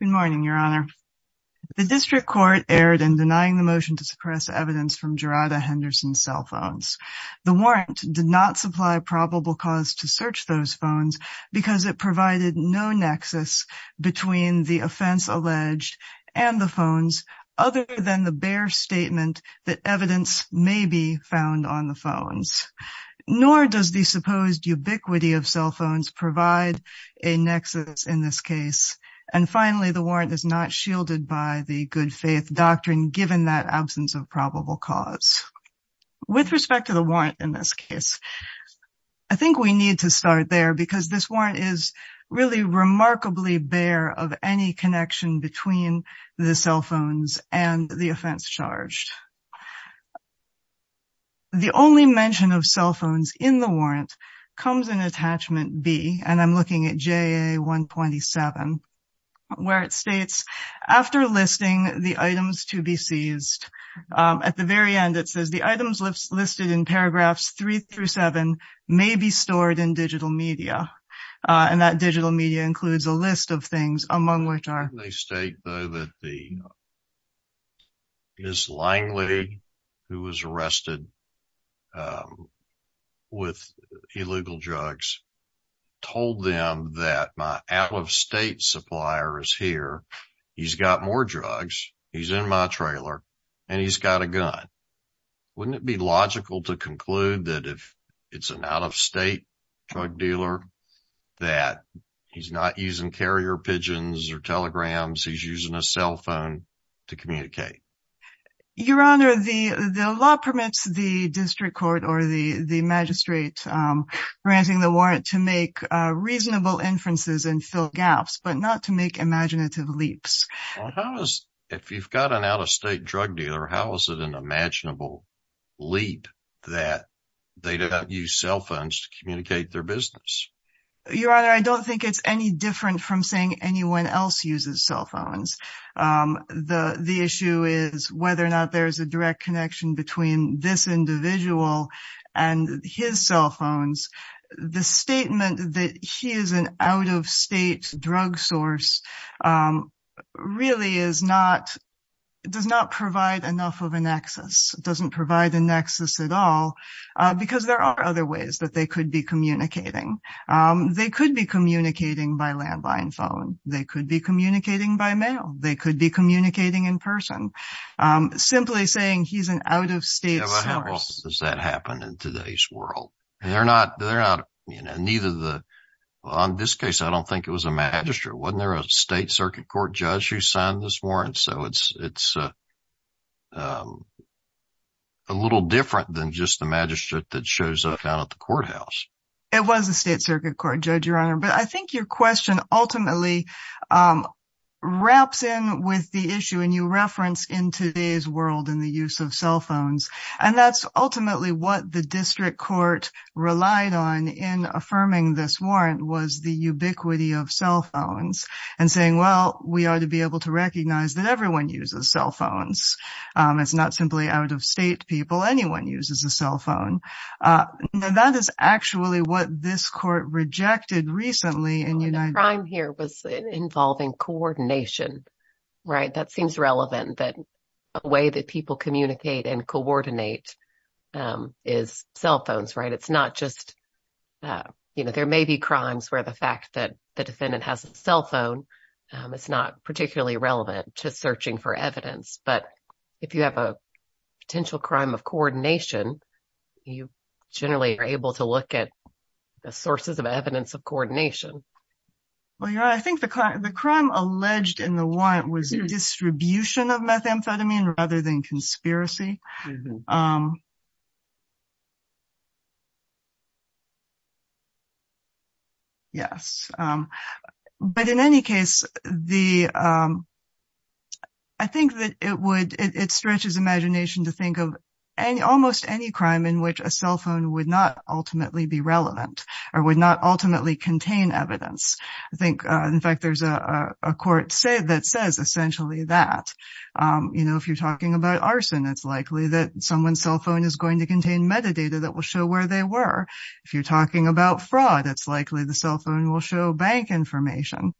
Good morning, your honor. The district court erred in denying the motion to suppress evidence from Jerada Henderson's cell phones. The warrant did not supply probable cause to search those phones because it provided no nexus between the offense alleged and the phones other than the bare statement that evidence may be found on the phones. Nor does the supposed ubiquity of cell is not shielded by the good faith doctrine given that absence of probable cause. With respect to the warrant in this case, I think we need to start there because this warrant is really remarkably bare of any connection between the cell phones and the offense charged. The only mention of cell phones in the warrant comes in attachment B and I'm looking at JA 127 where it states after listing the items to be seized at the very end it says the items listed in paragraphs three through seven may be stored in digital media and that digital media includes a list of things among which are they state though that the Miss Langley who was arrested with illegal drugs told them that my out of state supplier is here. He's got more drugs. He's in my trailer and he's got a gun. Wouldn't it be logical to conclude that if it's an out of state drug dealer that he's not using carrier pigeons or telegrams, he's using a cell phone to communicate? Your Honor, the law permits the district court or the magistrate granting the warrant to make reasonable inferences and fill gaps, but not to make imaginative leaps. If you've got an out of state drug dealer, how is it an imaginable leap that they don't use cell phones to communicate their business? Your Honor, I don't think it's any different from saying anyone else uses cell phones. The issue is whether or not there's a direct connection between this individual and his cell phones. The statement that he is an out of state drug source really does not provide enough of a nexus. It doesn't provide the nexus at all because there are other ways that they could communicate. They could be communicating by landline phone. They could be communicating by mail. They could be communicating in person. Simply saying he's an out of state source. Does that happen in today's world? On this case, I don't think it was a magistrate. Wasn't there a state circuit court judge who signed this warrant? It's a little different than just the magistrate that shows up down at the courthouse. It was a state circuit court judge, Your Honor, but I think your question ultimately wraps in with the issue and you reference in today's world and the use of cell phones. And that's ultimately what the district court relied on in affirming this warrant was the ubiquity of cell phones and saying, well, we ought to be able to recognize that everyone uses cell phones. It's not simply out of state people. Anyone uses a cell phone. That is actually what this court rejected recently. The crime here was involving coordination, right? That seems relevant that a way that people communicate and coordinate is cell phones, right? It's not just, you know, there may be crimes where the fact that the defendant has a cell phone, it's not particularly relevant to searching for evidence. But if you have a potential crime of coordination, you generally are able to look at the sources of evidence of coordination. Well, Your Honor, I think the crime alleged in the warrant was distribution of methamphetamine rather than conspiracy. Yes. But in any case, I think that it would, it stretches imagination to think of almost any crime in which a cell phone would not ultimately be relevant or would not ultimately contain evidence. I think, in fact, there's a court that says essentially that, you know, if you're talking about arson, it's likely that someone's cell phone is going to contain metadata that will show where they were. If you're talking about fraud, it's likely the cell phone will show bank information.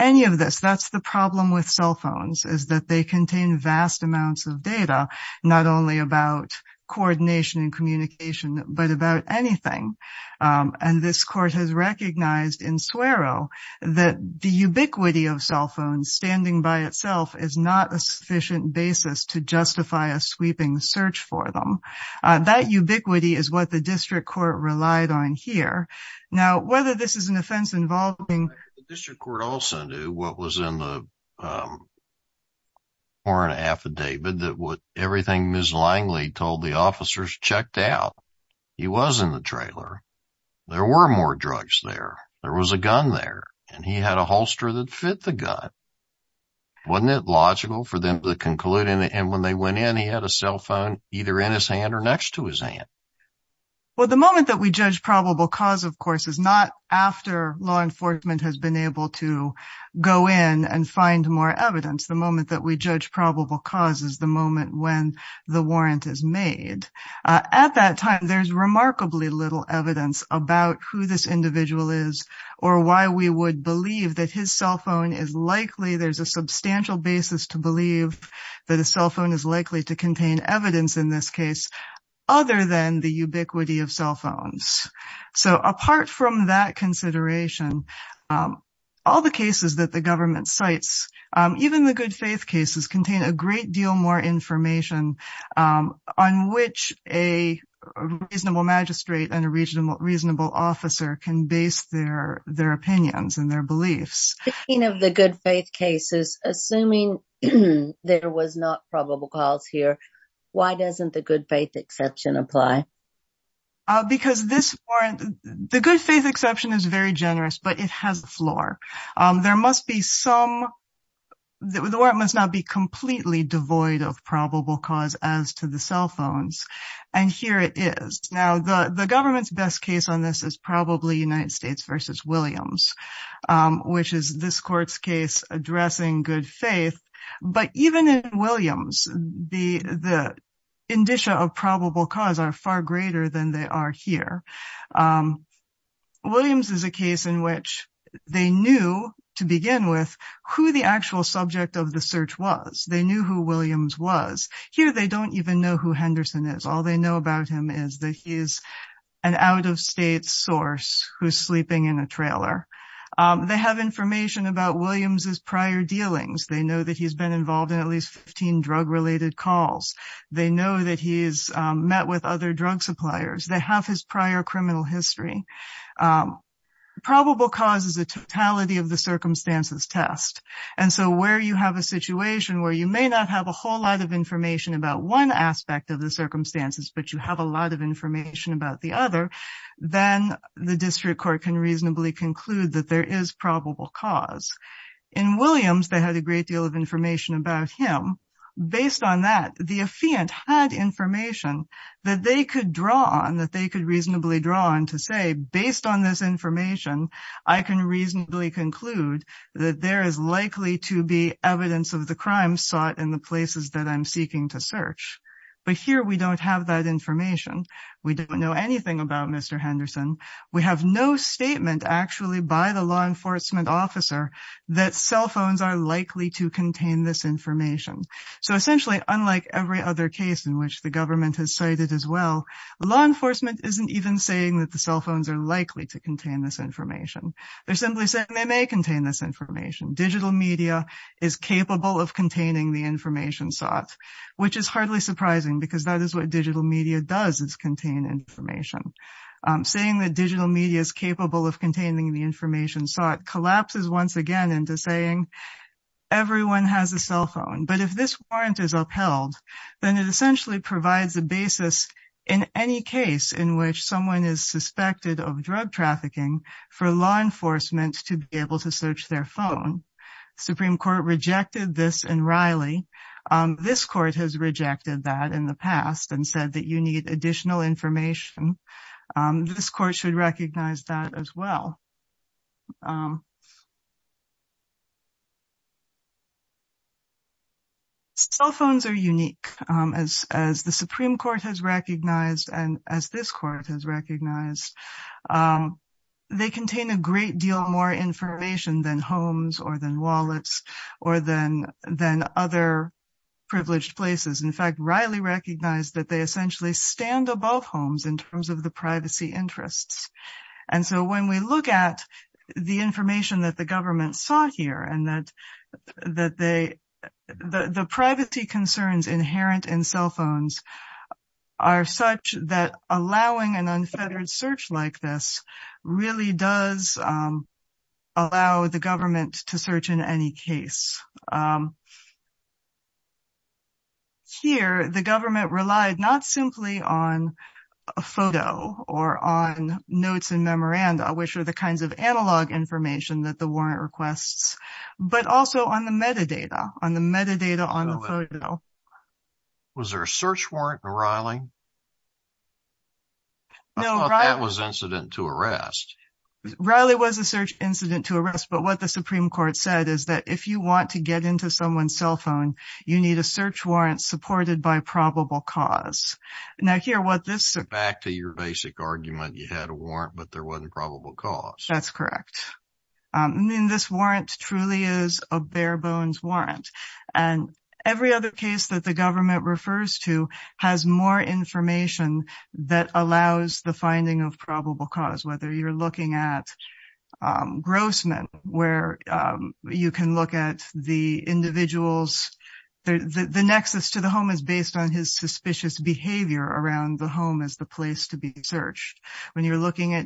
Any of this, that's the problem with cell phones, is that they contain vast amounts of data, not only about coordination and communication, but about anything. And this court has recognized in Suero that the ubiquity of cell phones standing by itself is not a sufficient basis to justify a sweeping search for them. That ubiquity is what the district court relied on here. Now, whether this is an offense involving... The district court also knew what was in the warrant affidavit, that what everything Ms. Langley told the officers checked out. He was in the trailer. There were more drugs there. There was a gun there, and he had a holster that fit the gun. Wasn't it logical for them to conclude, and when they went in, he had a cell phone either in his hand or next to his hand? Well, the moment that we judge probable cause, of course, is not after law enforcement has been able to go in and find more evidence. The moment that we judge probable cause is the moment when the warrant is made. At that time, there's remarkably little evidence about who this individual is or why we would believe that his cell phone is likely... There's a substantial basis to believe that a cell phone is likely to contain evidence in this case, other than the ubiquity of cell phones. So apart from that consideration, all the cases that the government cites, even the good faith cases, contain a great deal more information on which a reasonable magistrate and a reasonable officer can base their opinions and their beliefs. Speaking of the good faith cases, assuming there was not probable cause here, why doesn't the good faith exception apply? Because this warrant... The good faith exception is very generous, but it has a floor. There must be some... The warrant must not be completely devoid of probable cause as to the cell phones, and here it is. Now, the government's best case on this is probably United States v. Williams, which is this court's case addressing good faith. But even in Williams, the indicia of probable cause are far greater than they are here. Williams is a case in which they knew, to begin with, who the actual subject of the search was. They knew who Williams was. Here, they don't even know who Henderson is. All they know about him is that he's an out-of-state source who's sleeping in a trailer. They have information about Williams' prior dealings. They know that he's been involved in at least 15 drug-related calls. They know that he's met with other drug suppliers. They have his prior criminal history. Probable cause is a totality-of-the-circumstances test, and so where you have a situation where you may not have a whole lot of information about one aspect of the circumstances, but you have a lot of information about the other, then the district court can reasonably conclude that there is probable cause. In Williams, they had a great deal of information about him. Based on that, the affiant had information that they could draw on, that they could reasonably draw on to say, based on this information, I can reasonably conclude that there is likely to be evidence of the crime sought in the places that I'm seeking to search. But here, we don't have that information. We don't know anything about Mr. Henderson. We have no statement, actually, by the law enforcement officer that cell phones are likely to contain this information. So in every other case in which the government has cited as well, law enforcement isn't even saying that the cell phones are likely to contain this information. They're simply saying they may contain this information. Digital media is capable of containing the information sought, which is hardly surprising because that is what digital media does, is contain information. Saying that digital media is capable of containing the information sought collapses once again into saying everyone has a cell phone. But if this warrant is upheld, then it essentially provides a basis in any case in which someone is suspected of drug trafficking for law enforcement to be able to search their phone. Supreme Court rejected this in Riley. This court has rejected that in the past and said that you need additional information. This court should recognize that as well. Cell phones are unique as the Supreme Court has recognized and as this court has recognized. They contain a great deal more information than homes or than wallets or than other privileged places. In fact, Riley recognized that they essentially stand above homes in terms of the information that the government sought here and that the privacy concerns inherent in cell phones are such that allowing an unfettered search like this really does allow the government to search in any case. Here, the government relied not simply on a photo or on notes and memoranda, which are the kinds of analog information that the warrant requests, but also on the metadata on the photo. Was there a search warrant in Riley? No, that was incident to arrest. Riley was a search incident to arrest, but what the Supreme Court said is that if you want to get into someone's cell phone, you need a search warrant supported by probable cause. Now here, what this... Back to your basic argument, you had a warrant, but there wasn't probable cause. That's correct. I mean, this warrant truly is a bare bones warrant and every other case that the government refers to has more information that allows the finding of probable cause. Whether you're looking at Grossman, where you can look at the individuals, the nexus to the home is based on his suspicious behavior around the home as the place to be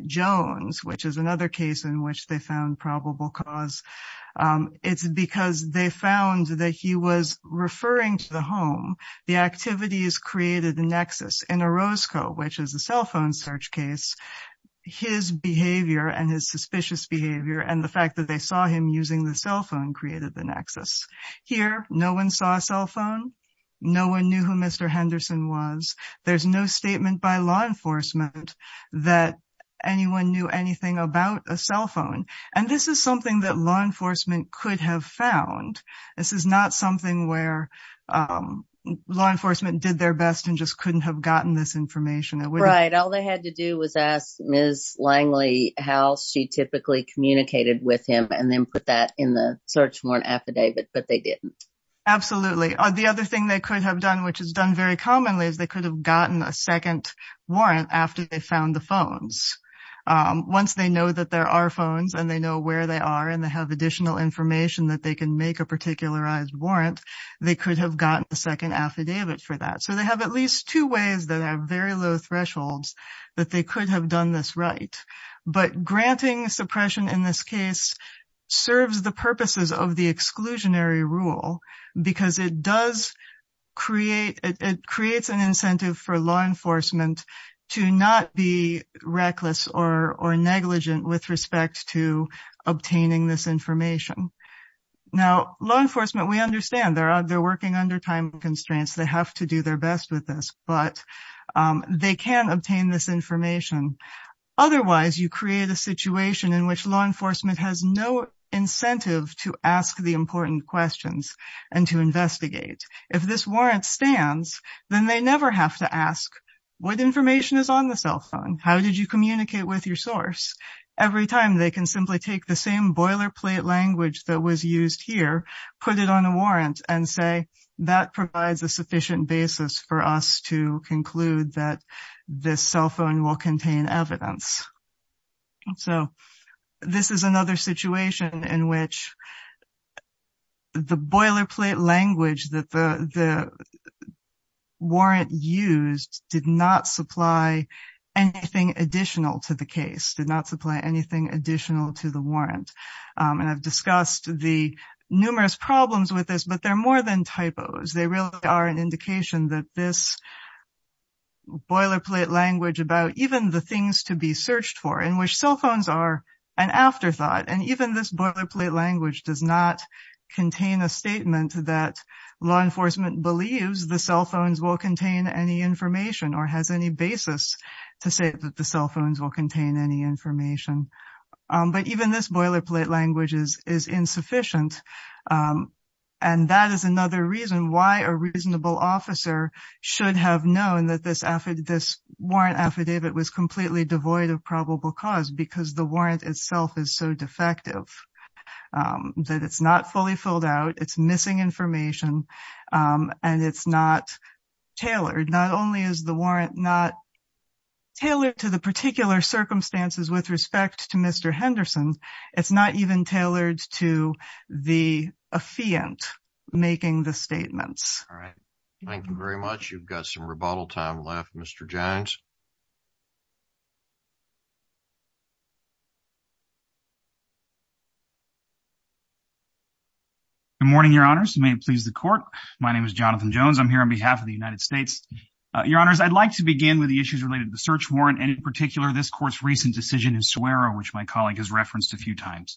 Jones, which is another case in which they found probable cause. It's because they found that he was referring to the home. The activities created the nexus in Orozco, which is a cell phone search case. His behavior and his suspicious behavior and the fact that they saw him using the cell phone created the nexus. Here, no one saw a cell phone. No one knew who Mr. Henderson was. There's no statement by law enforcement that anyone knew anything about a cell phone, and this is something that law enforcement could have found. This is not something where law enforcement did their best and just couldn't have gotten this information. Right. All they had to do was ask Ms. Langley how she typically communicated with him and then put that in the search warrant affidavit, but they didn't. Absolutely. The other thing they could have done, which is done very commonly, is they could have gotten a second warrant after they found the phones. Once they know that there are phones and they know where they are and they have additional information that they can make a particularized warrant, they could have gotten a second affidavit for that. They have at least two ways that are very low thresholds that they could have done this right, but granting suppression in this case serves the purposes of the exclusionary rule because it does create an incentive for law enforcement to not be reckless or negligent with respect to obtaining this information. Now, law enforcement, we understand they're working under time constraints. They have to do their best with this, but they can obtain this information. Otherwise, you create a situation in which law enforcement has no incentive to ask the important questions and to investigate. If this warrant stands, then they never have to ask, what information is on the cell phone? How did you communicate with your source? Every time they can simply take the same boilerplate language that was used here, put it on a warrant, and say that provides a sufficient basis for us to conclude that this cell phone will contain evidence. And so this is another situation in which the boilerplate language that the warrant used did not supply anything additional to the case, did not supply anything additional to the warrant. And I've discussed the numerous problems with this, but they're more than typos. They really are an indication that this boilerplate language about even the things to be searched for in which cell phones are an afterthought. And even this boilerplate language does not contain a statement that law enforcement believes the cell phones will contain any information or has any basis to say that the cell phones will contain any information. But even this boilerplate language is insufficient. And that is another reason why a reasonable officer should have known that this warrant affidavit was completely devoid of probable cause because the warrant itself is so defective, that it's not fully filled out, it's missing information, and it's not tailored. Not only is the warrant not tailored to the particular circumstances with respect to Mr. Henderson, it's not even tailored to the affiant making the statements. All right. Thank you very much. You've got some rebuttal time left, Mr. Jones. Good morning, your honors. May it please the court. My name is Jonathan Jones. I'm here on behalf of the United States. Your honors, I'd like to begin with the issues related to the court's recent decision in Suero, which my colleague has referenced a few times.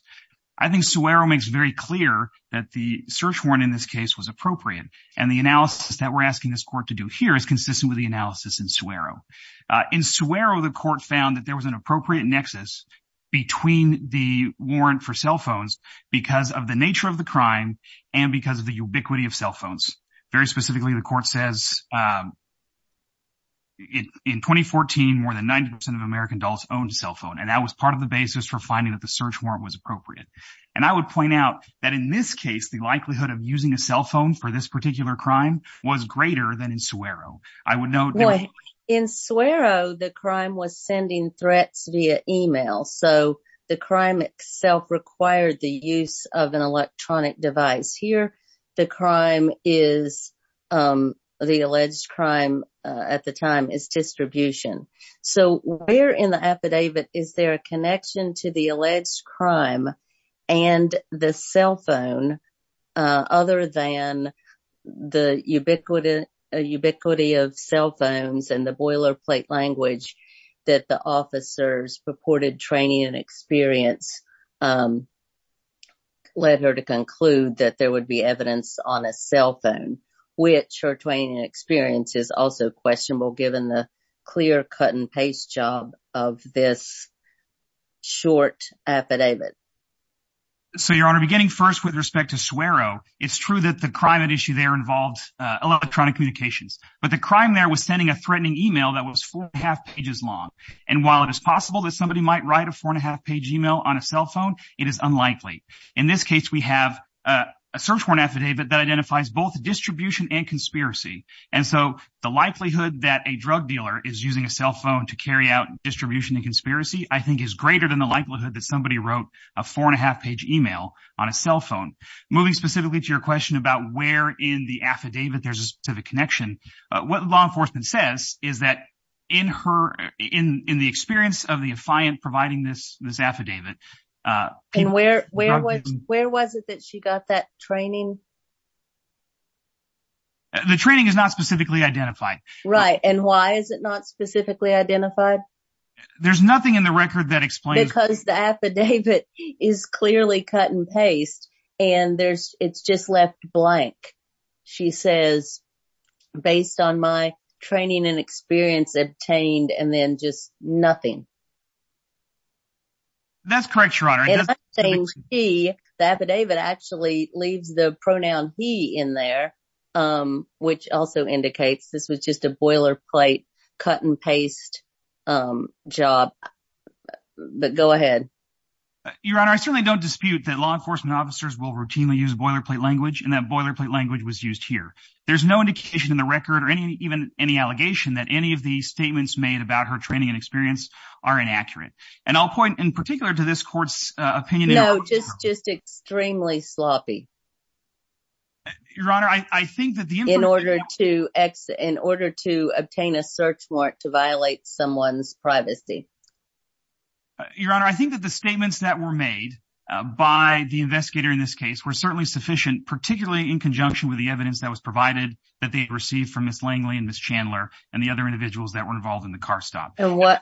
I think Suero makes very clear that the search warrant in this case was appropriate. And the analysis that we're asking this court to do here is consistent with the analysis in Suero. In Suero, the court found that there was an appropriate nexus between the warrant for cell phones because of the nature of the crime and because of the ubiquity of cell phones. Very And that was part of the basis for finding that the search warrant was appropriate. And I would point out that in this case, the likelihood of using a cell phone for this particular crime was greater than in Suero. I would note- In Suero, the crime was sending threats via email. So the crime itself required the use of an electronic device. Here, the crime is- The alleged crime at the time is distribution. So where in the affidavit is there a connection to the alleged crime and the cell phone other than the ubiquity of cell phones and the boilerplate language that the officers purported training and experience led her to conclude that there would be evidence on a cell phone, which her training and experience is also questionable given the clear cut and paste job of this short affidavit. So, Your Honor, beginning first with respect to Suero, it's true that the crime at issue there involved electronic communications. But the crime there was sending a threatening email that was four and a half pages long. And while it is possible that somebody might write a four and a half page email on a cell phone, it is unlikely. In this case, we have a search warrant affidavit that identifies both distribution and conspiracy. And so the likelihood that a drug dealer is using a cell phone to carry out distribution and conspiracy, I think is greater than the likelihood that somebody wrote a four and a half page email on a cell phone. Moving specifically to your question about where in the affidavit there's a specific connection, what law enforcement says is that in her- In the experience of the affiant providing this affidavit- And where was it that she got that training? The training is not specifically identified. Right. And why is it not specifically identified? There's nothing in the record that explains- Because the affidavit is clearly cut and paste and it's just left blank. She says, based on my training and experience obtained and then just nothing. That's correct, Your Honor. The affidavit actually leaves the pronoun he in there, which also indicates this was just a boilerplate cut and paste job. But go ahead. Your Honor, I certainly don't dispute that law enforcement officers will routinely use boilerplate language and that boilerplate language was used here. There's no indication in the record or even any allegation that any of the statements made about her training and experience are inaccurate. And I'll point in particular to this court's opinion- No, just extremely sloppy. Your Honor, I think that the- In order to obtain a search mark to violate someone's privacy. Your Honor, I think that the statements that were made by the investigator in this case were certainly sufficient, particularly in conjunction with the evidence that was provided that they and the other individuals that were involved in the car stop. I'm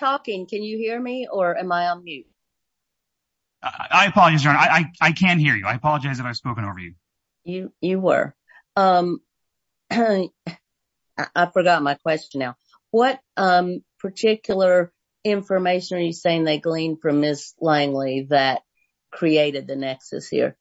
talking. Can you hear me or am I on mute? I apologize, Your Honor. I can't hear you. I apologize if I've spoken over you. You were. I forgot my question now. What particular information are you saying they gleaned from Ms. Langley that created the nexus here?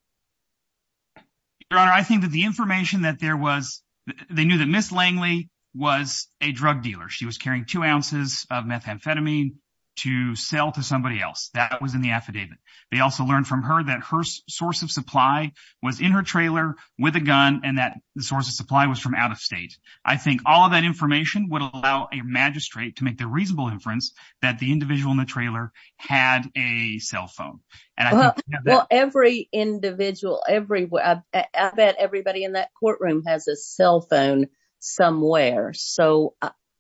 Your Honor, I think that the information that there was- They knew that Ms. Langley was a drug dealer. She was carrying two ounces of methamphetamine to sell to somebody else. That was in the affidavit. They also learned from her that her source of supply was in her trailer with a gun and that the source of supply was from out of state. I think all of that information would allow a magistrate to make the reasonable inference that the individual in the trailer had a cell phone. I bet everybody in that courtroom has a cell phone somewhere.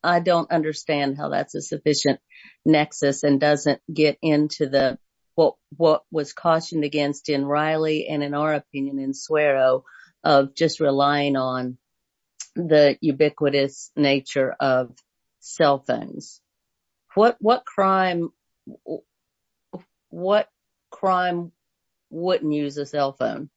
I don't understand how that's a sufficient nexus and doesn't get into what was cautioned against in Riley and in our opinion in Suero of just relying on the ubiquitous nature of cell phones. What crime wouldn't use a cell phone?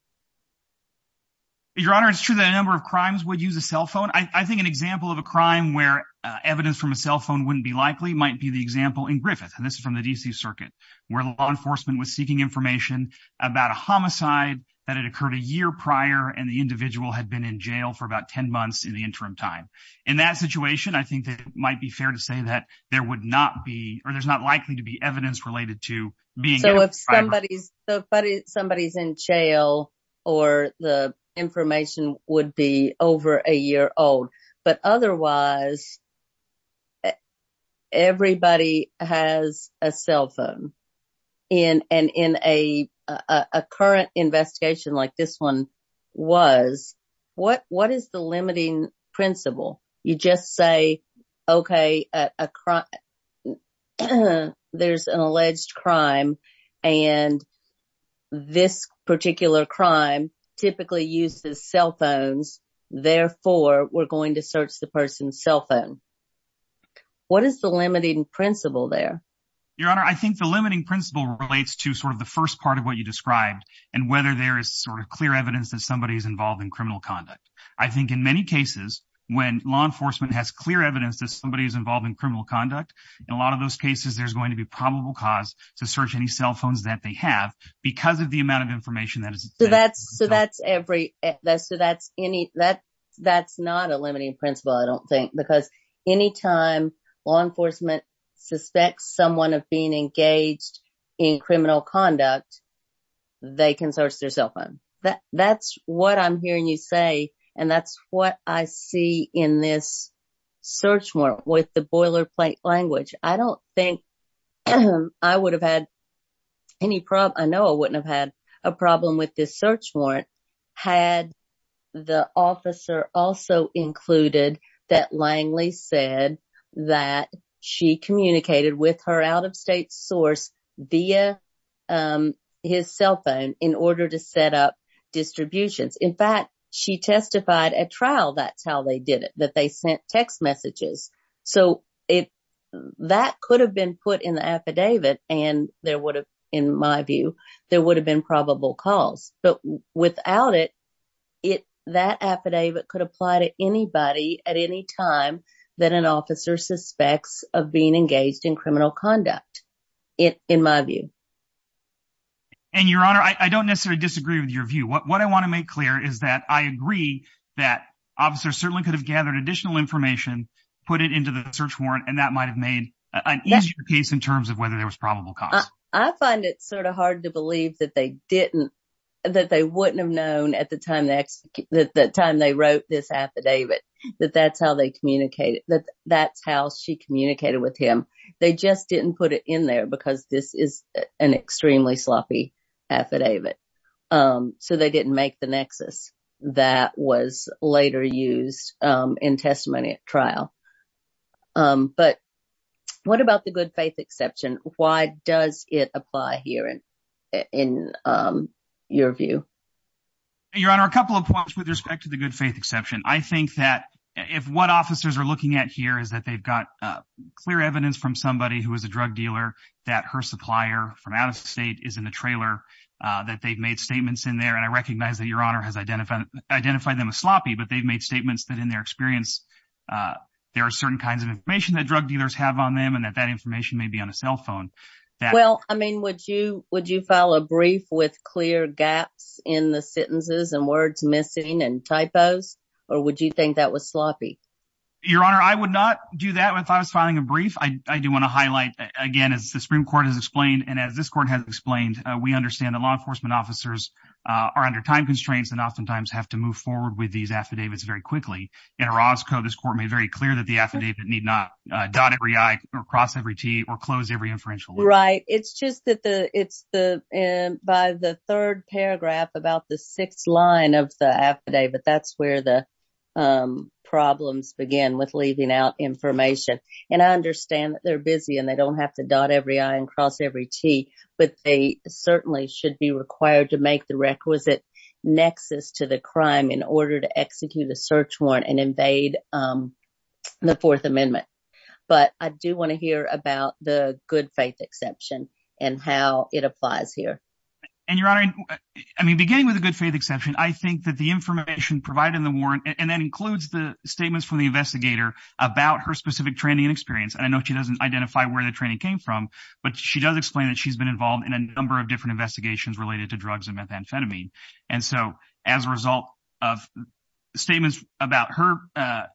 Your Honor, it's true that a number of crimes would use a cell phone. I think an example of a crime where evidence from a cell phone wouldn't be likely might be the example in Griffith. This is from the D.C. Circuit where law enforcement was seeking information about a homicide that had occurred a year prior and the individual had been in jail for about 10 months in the interim time. In that situation, I think it might be fair to say that there would not be, or there's not likely to be, evidence related to being- So if somebody's in jail or the information would be over a year old, but otherwise everybody has a cell phone. In a current investigation like this one was, what is the limiting principle? You just say, okay, there's an alleged crime and this particular crime typically uses cell phones, therefore we're going to search the person's cell phone. What is the limiting principle there? Your Honor, I think the limiting principle relates to sort of the first part of what you described and whether there is sort of clear evidence that is involved in criminal conduct. I think in many cases, when law enforcement has clear evidence that somebody is involved in criminal conduct, in a lot of those cases there's going to be probable cause to search any cell phones that they have because of the amount of information that is- That's not a limiting principle, I don't think, because anytime law enforcement suspects someone of being engaged in criminal conduct, they can search their cell phone. That's what I'm hearing you say and that's what I see in this search warrant with the boilerplate language. I don't think I would have had any problem, I know I wouldn't have had a problem with this search warrant had the officer also included that Langley said that she communicated with her out-of-state source via his cell phone in order to set up distributions. In fact, she testified at trial, that's how they did it, that they sent text messages. So, that could have been put in the affidavit and there would have been probable cause. But without it, that affidavit could apply to anybody at any time that an officer suspects of being engaged in criminal conduct, in my view. And your honor, I don't necessarily disagree with your view. What I want to make clear is that I agree that officers certainly could have gathered additional information, put it into the search warrant, and that might have made an easier case in terms of whether there was probable cause. I find it sort of hard to believe that they wouldn't have known at the time they wrote this affidavit that that's how they communicated, that that's how she communicated with him. They just didn't put it in there because this is an extremely sloppy affidavit. So, they didn't make the nexus that was later used in testimony at trial. But what about the good faith exception? Why does it apply here in your view? Your honor, a couple of points with respect to the good faith exception. I think that if what officers are looking at here is that they've got clear evidence from somebody who is a drug dealer that her supplier from out of state is in the trailer, that they've made statements in there. And I recognize that your honor has identified them as sloppy, but they've made statements that in their experience, there are certain kinds of information that drug dealers have on them and that that information may be on a cell phone. Well, I mean, would you file a brief with clear gaps in the sentences and words missing and typos? Or would you think that was sloppy? Your honor, I would not do that if I was filing a brief. I do want to highlight again, as the Supreme Court has explained, and as this court has explained, we understand that law enforcement officers are under time constraints and oftentimes have to move forward with these affidavits very quickly. In Orozco, this court made very clear that affidavit need not dot every I or cross every T or close every inferential. Right. It's just that it's by the third paragraph about the sixth line of the affidavit, that's where the problems begin with leaving out information. And I understand that they're busy and they don't have to dot every I and cross every T, but they certainly should be required to make the requisite nexus to the crime in order to execute a search warrant and invade the Fourth Amendment. But I do want to hear about the good faith exception and how it applies here. And your honor, I mean, beginning with a good faith exception, I think that the information provided in the warrant and that includes the statements from the investigator about her specific training and experience. And I know she doesn't identify where the training came from, but she does explain that she's been involved in a number of different investigations related to drugs and methamphetamine. And so as a result of statements about her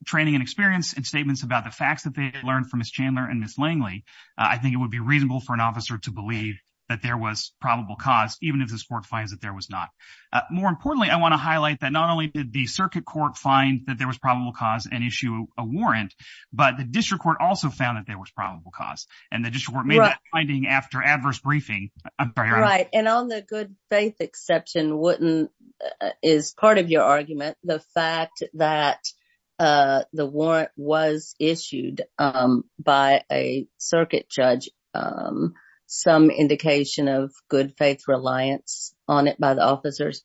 training and experience and statements about the facts that they learned from Ms. Chandler and Ms. Langley, I think it would be reasonable for an officer to believe that there was probable cause, even if this court finds that there was not. More importantly, I want to highlight that not only did the circuit court find that there was probable cause and issue a warrant, but the district court also found that there was wouldn't, is part of your argument, the fact that the warrant was issued by a circuit judge, some indication of good faith reliance on it by the officers?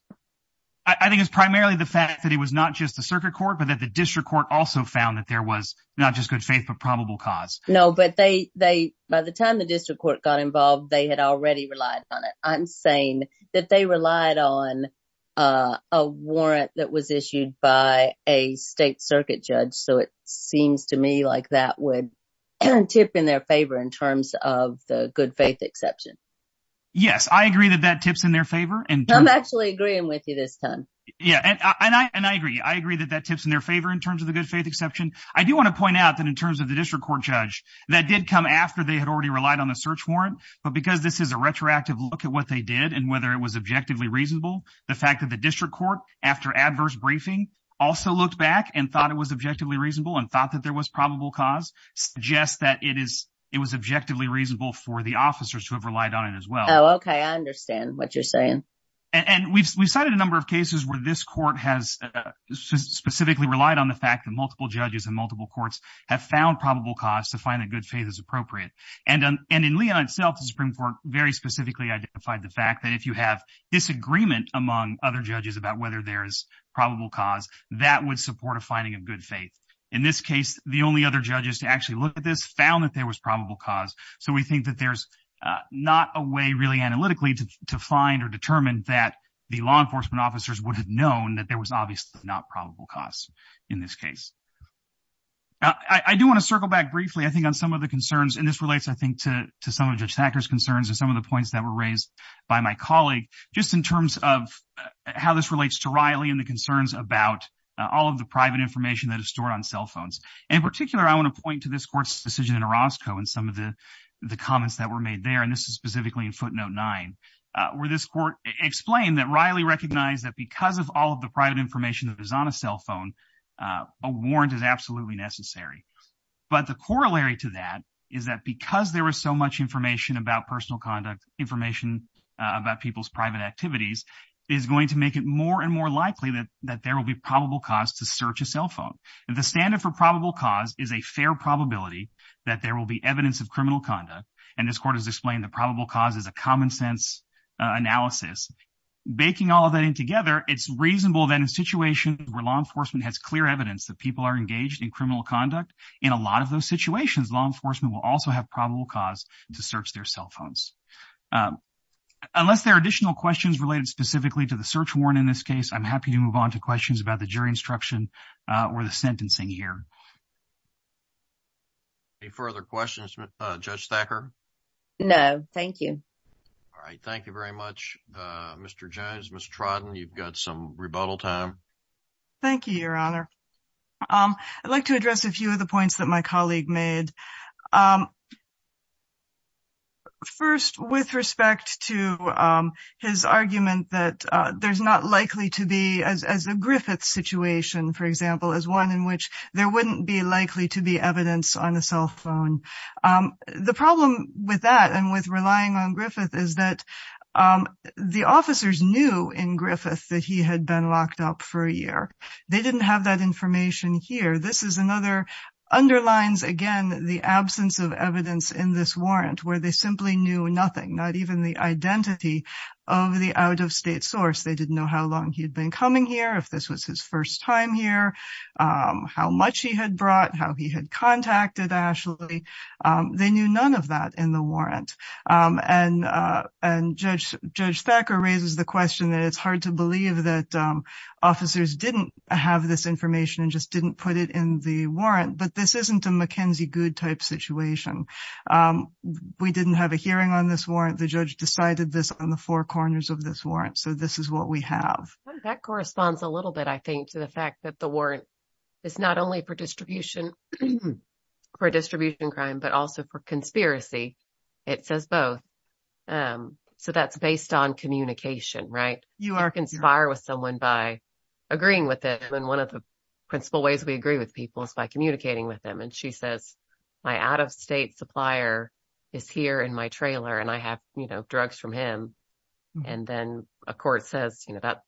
I think it's primarily the fact that it was not just the circuit court, but that the district court also found that there was not just good faith, but probable cause. No, but by the time the district court got involved, they had already relied on it. I'm saying that they relied on a warrant that was issued by a state circuit judge. So it seems to me like that would tip in their favor in terms of the good faith exception. Yes, I agree that that tips in their favor. I'm actually agreeing with you this time. Yeah, and I agree. I agree that that tips in their favor in terms of the good faith exception. I do want to point out that in terms of the district court judge that did come after they already relied on the search warrant, but because this is a retroactive look at what they did and whether it was objectively reasonable, the fact that the district court after adverse briefing also looked back and thought it was objectively reasonable and thought that there was probable cause suggests that it was objectively reasonable for the officers to have relied on it as well. Oh, okay. I understand what you're saying. And we've cited a number of cases where this court has specifically relied on the fact that multiple judges and multiple courts have found probable cause to find that good faith is and in Leon itself, the Supreme Court very specifically identified the fact that if you have disagreement among other judges about whether there is probable cause, that would support a finding of good faith. In this case, the only other judges to actually look at this found that there was probable cause. So we think that there's not a way really analytically to find or determine that the law enforcement officers would have known that there was obviously not probable cause in this case. I do want to circle back briefly, I think, on some of the concerns and this relates, to some of Judge Thacker's concerns and some of the points that were raised by my colleague, just in terms of how this relates to Riley and the concerns about all of the private information that is stored on cell phones. In particular, I want to point to this court's decision in Orozco and some of the comments that were made there, and this is specifically in footnote nine, where this court explained that Riley recognized that because of all of the private information that is on a cell phone, a warrant is absolutely necessary. But the corollary to that is that because there was so much information about personal conduct, information about people's private activities, is going to make it more and more likely that there will be probable cause to search a cell phone. The standard for probable cause is a fair probability that there will be evidence of criminal conduct, and this court has explained the probable cause is a common sense analysis. Baking all of that in together, it's reasonable that in situations where law enforcement has clear evidence that people are engaged in criminal conduct, in a lot of those situations, law enforcement will also have probable cause to search their cell phones. Unless there are additional questions related specifically to the search warrant in this case, I'm happy to move on to questions about the jury instruction or the sentencing here. Any further questions, Judge Thacker? No, thank you. All right, thank you very much, Mr. Jones. Ms. Trodden, you've got some rebuttal time. Thank you, Your Honor. I'd like to address a few of the points that my colleague made. First, with respect to his argument that there's not likely to be, as a Griffith situation, for example, as one in which there wouldn't be likely to be evidence on a cell phone. The problem with that and with relying on Griffith is that the officers knew in Griffith that he had been locked up for a year. They didn't have that underlines, again, the absence of evidence in this warrant where they simply knew nothing, not even the identity of the out-of-state source. They didn't know how long he'd been coming here, if this was his first time here, how much he had brought, how he had contacted Ashley. They knew none of that in the warrant. Judge Thacker raises the question that it's hard to but this isn't a Mackenzie Goode type situation. We didn't have a hearing on this warrant. The judge decided this on the four corners of this warrant, so this is what we have. That corresponds a little bit, I think, to the fact that the warrant is not only for distribution crime but also for conspiracy. It says both. That's based on communication, right? You can conspire with someone by agreeing with them. One of the principal ways we agree with people is by and she says, my out-of-state supplier is here in my trailer and I have drugs from him. Then a court says, that's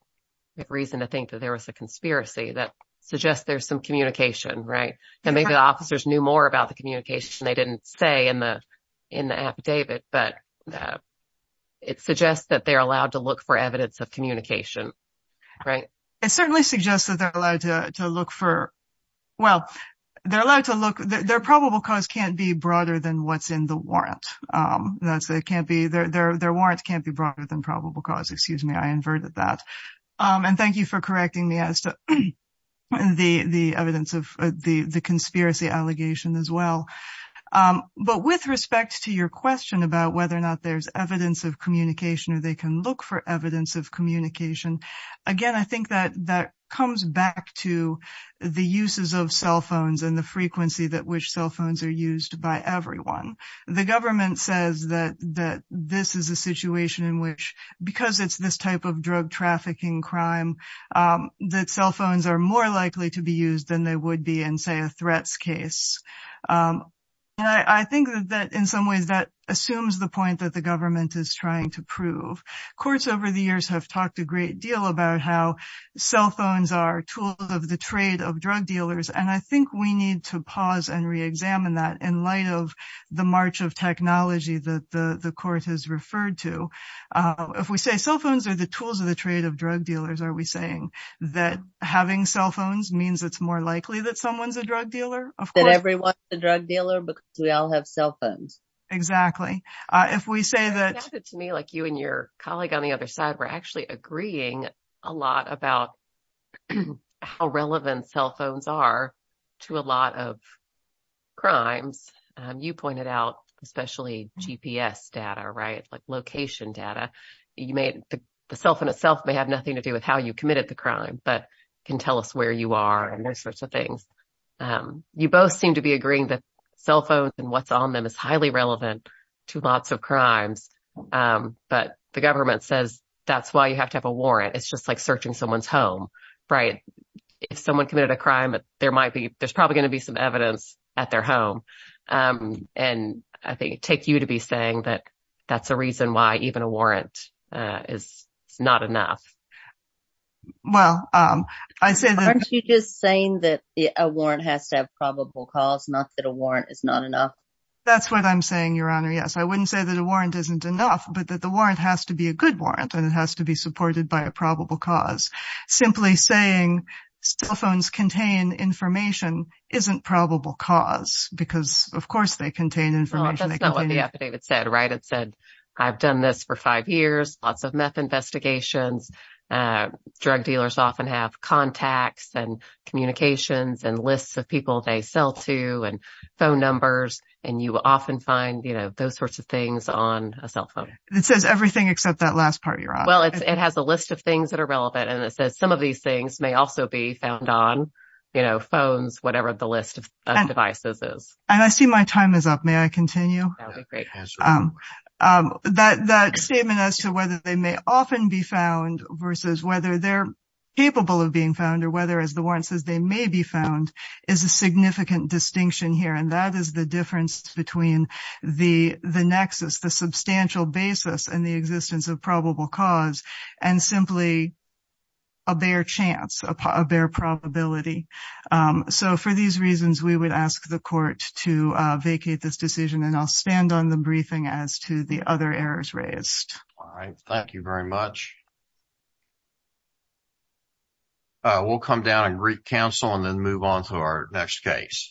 a good reason to think that there was a conspiracy. That suggests there's some communication, right? Maybe the officers knew more about the communication they didn't say in the affidavit, but it suggests that they're allowed to look for evidence of communication, right? It certainly suggests that they're allowed to look for, well, they're allowed to look, their probable cause can't be broader than what's in the warrant. Their warrant can't be broader than probable cause. Excuse me, I inverted that. And thank you for correcting me as to the evidence of the conspiracy allegation as well. But with respect to your question about whether or not there's evidence of communication or they can look for evidence of communication, again, I think that that comes back to the uses of cell phones and the frequency that which cell phones are used by everyone. The government says that this is a situation in which, because it's this type of drug trafficking crime, that cell phones are more likely to be used than they would be in, say, a threats case. And I think that in some ways that assumes the point that the government is trying to prove. Courts over the years have talked a great deal about how cell phones are tools of the trade of drug dealers. And I think we need to pause and re-examine that in light of the march of technology that the court has referred to. If we say cell phones are the tools of the trade of drug dealers, are we saying that having cell phones means it's more likely that someone's a drug dealer? That everyone's a drug dealer because we all have cell phones. Exactly. If we say that... It sounded to me like you and your colleague on the other side were actually agreeing a lot about how relevant cell phones are to a lot of crimes. You pointed out especially GPS data, right, like location data. The cell phone itself may have nothing to do with how you committed the crime. You both seem to be agreeing that cell phones and what's on them is highly relevant to lots of crimes. But the government says that's why you have to have a warrant. It's just like searching someone's home, right? If someone committed a crime, there's probably going to be some evidence at their home. And I think it would take you to be saying that that's a reason why even a warrant is not enough. Well, I said that... That's what I'm saying, Your Honor. Yes. I wouldn't say that a warrant isn't enough, but that the warrant has to be a good warrant and it has to be supported by a probable cause. Simply saying cell phones contain information isn't probable cause because of course they contain information. That's not what the affidavit said, right? It said, I've done this for five years, lots of meth investigations. Drug dealers often have contacts and communications and lists of people they sell to and phone numbers. And you often find those sorts of things on a cell phone. It says everything except that last part, Your Honor. Well, it has a list of things that are relevant. And it says some of these things may also be found on phones, whatever the list of devices is. And I see my time is up. May I continue? That would be great. That statement as to whether they may often be found versus whether they're capable of being found or whether as the warrant says they may be found is a significant distinction here. And that is the difference between the nexus, the substantial basis and the existence of probable cause and simply a bare chance, a bare probability. So for these reasons, we would ask the court to vacate this decision and I'll stand on the briefing as to the other errors raised. All right. Thank you very much. We'll come down and recounsel and then move on to our next case.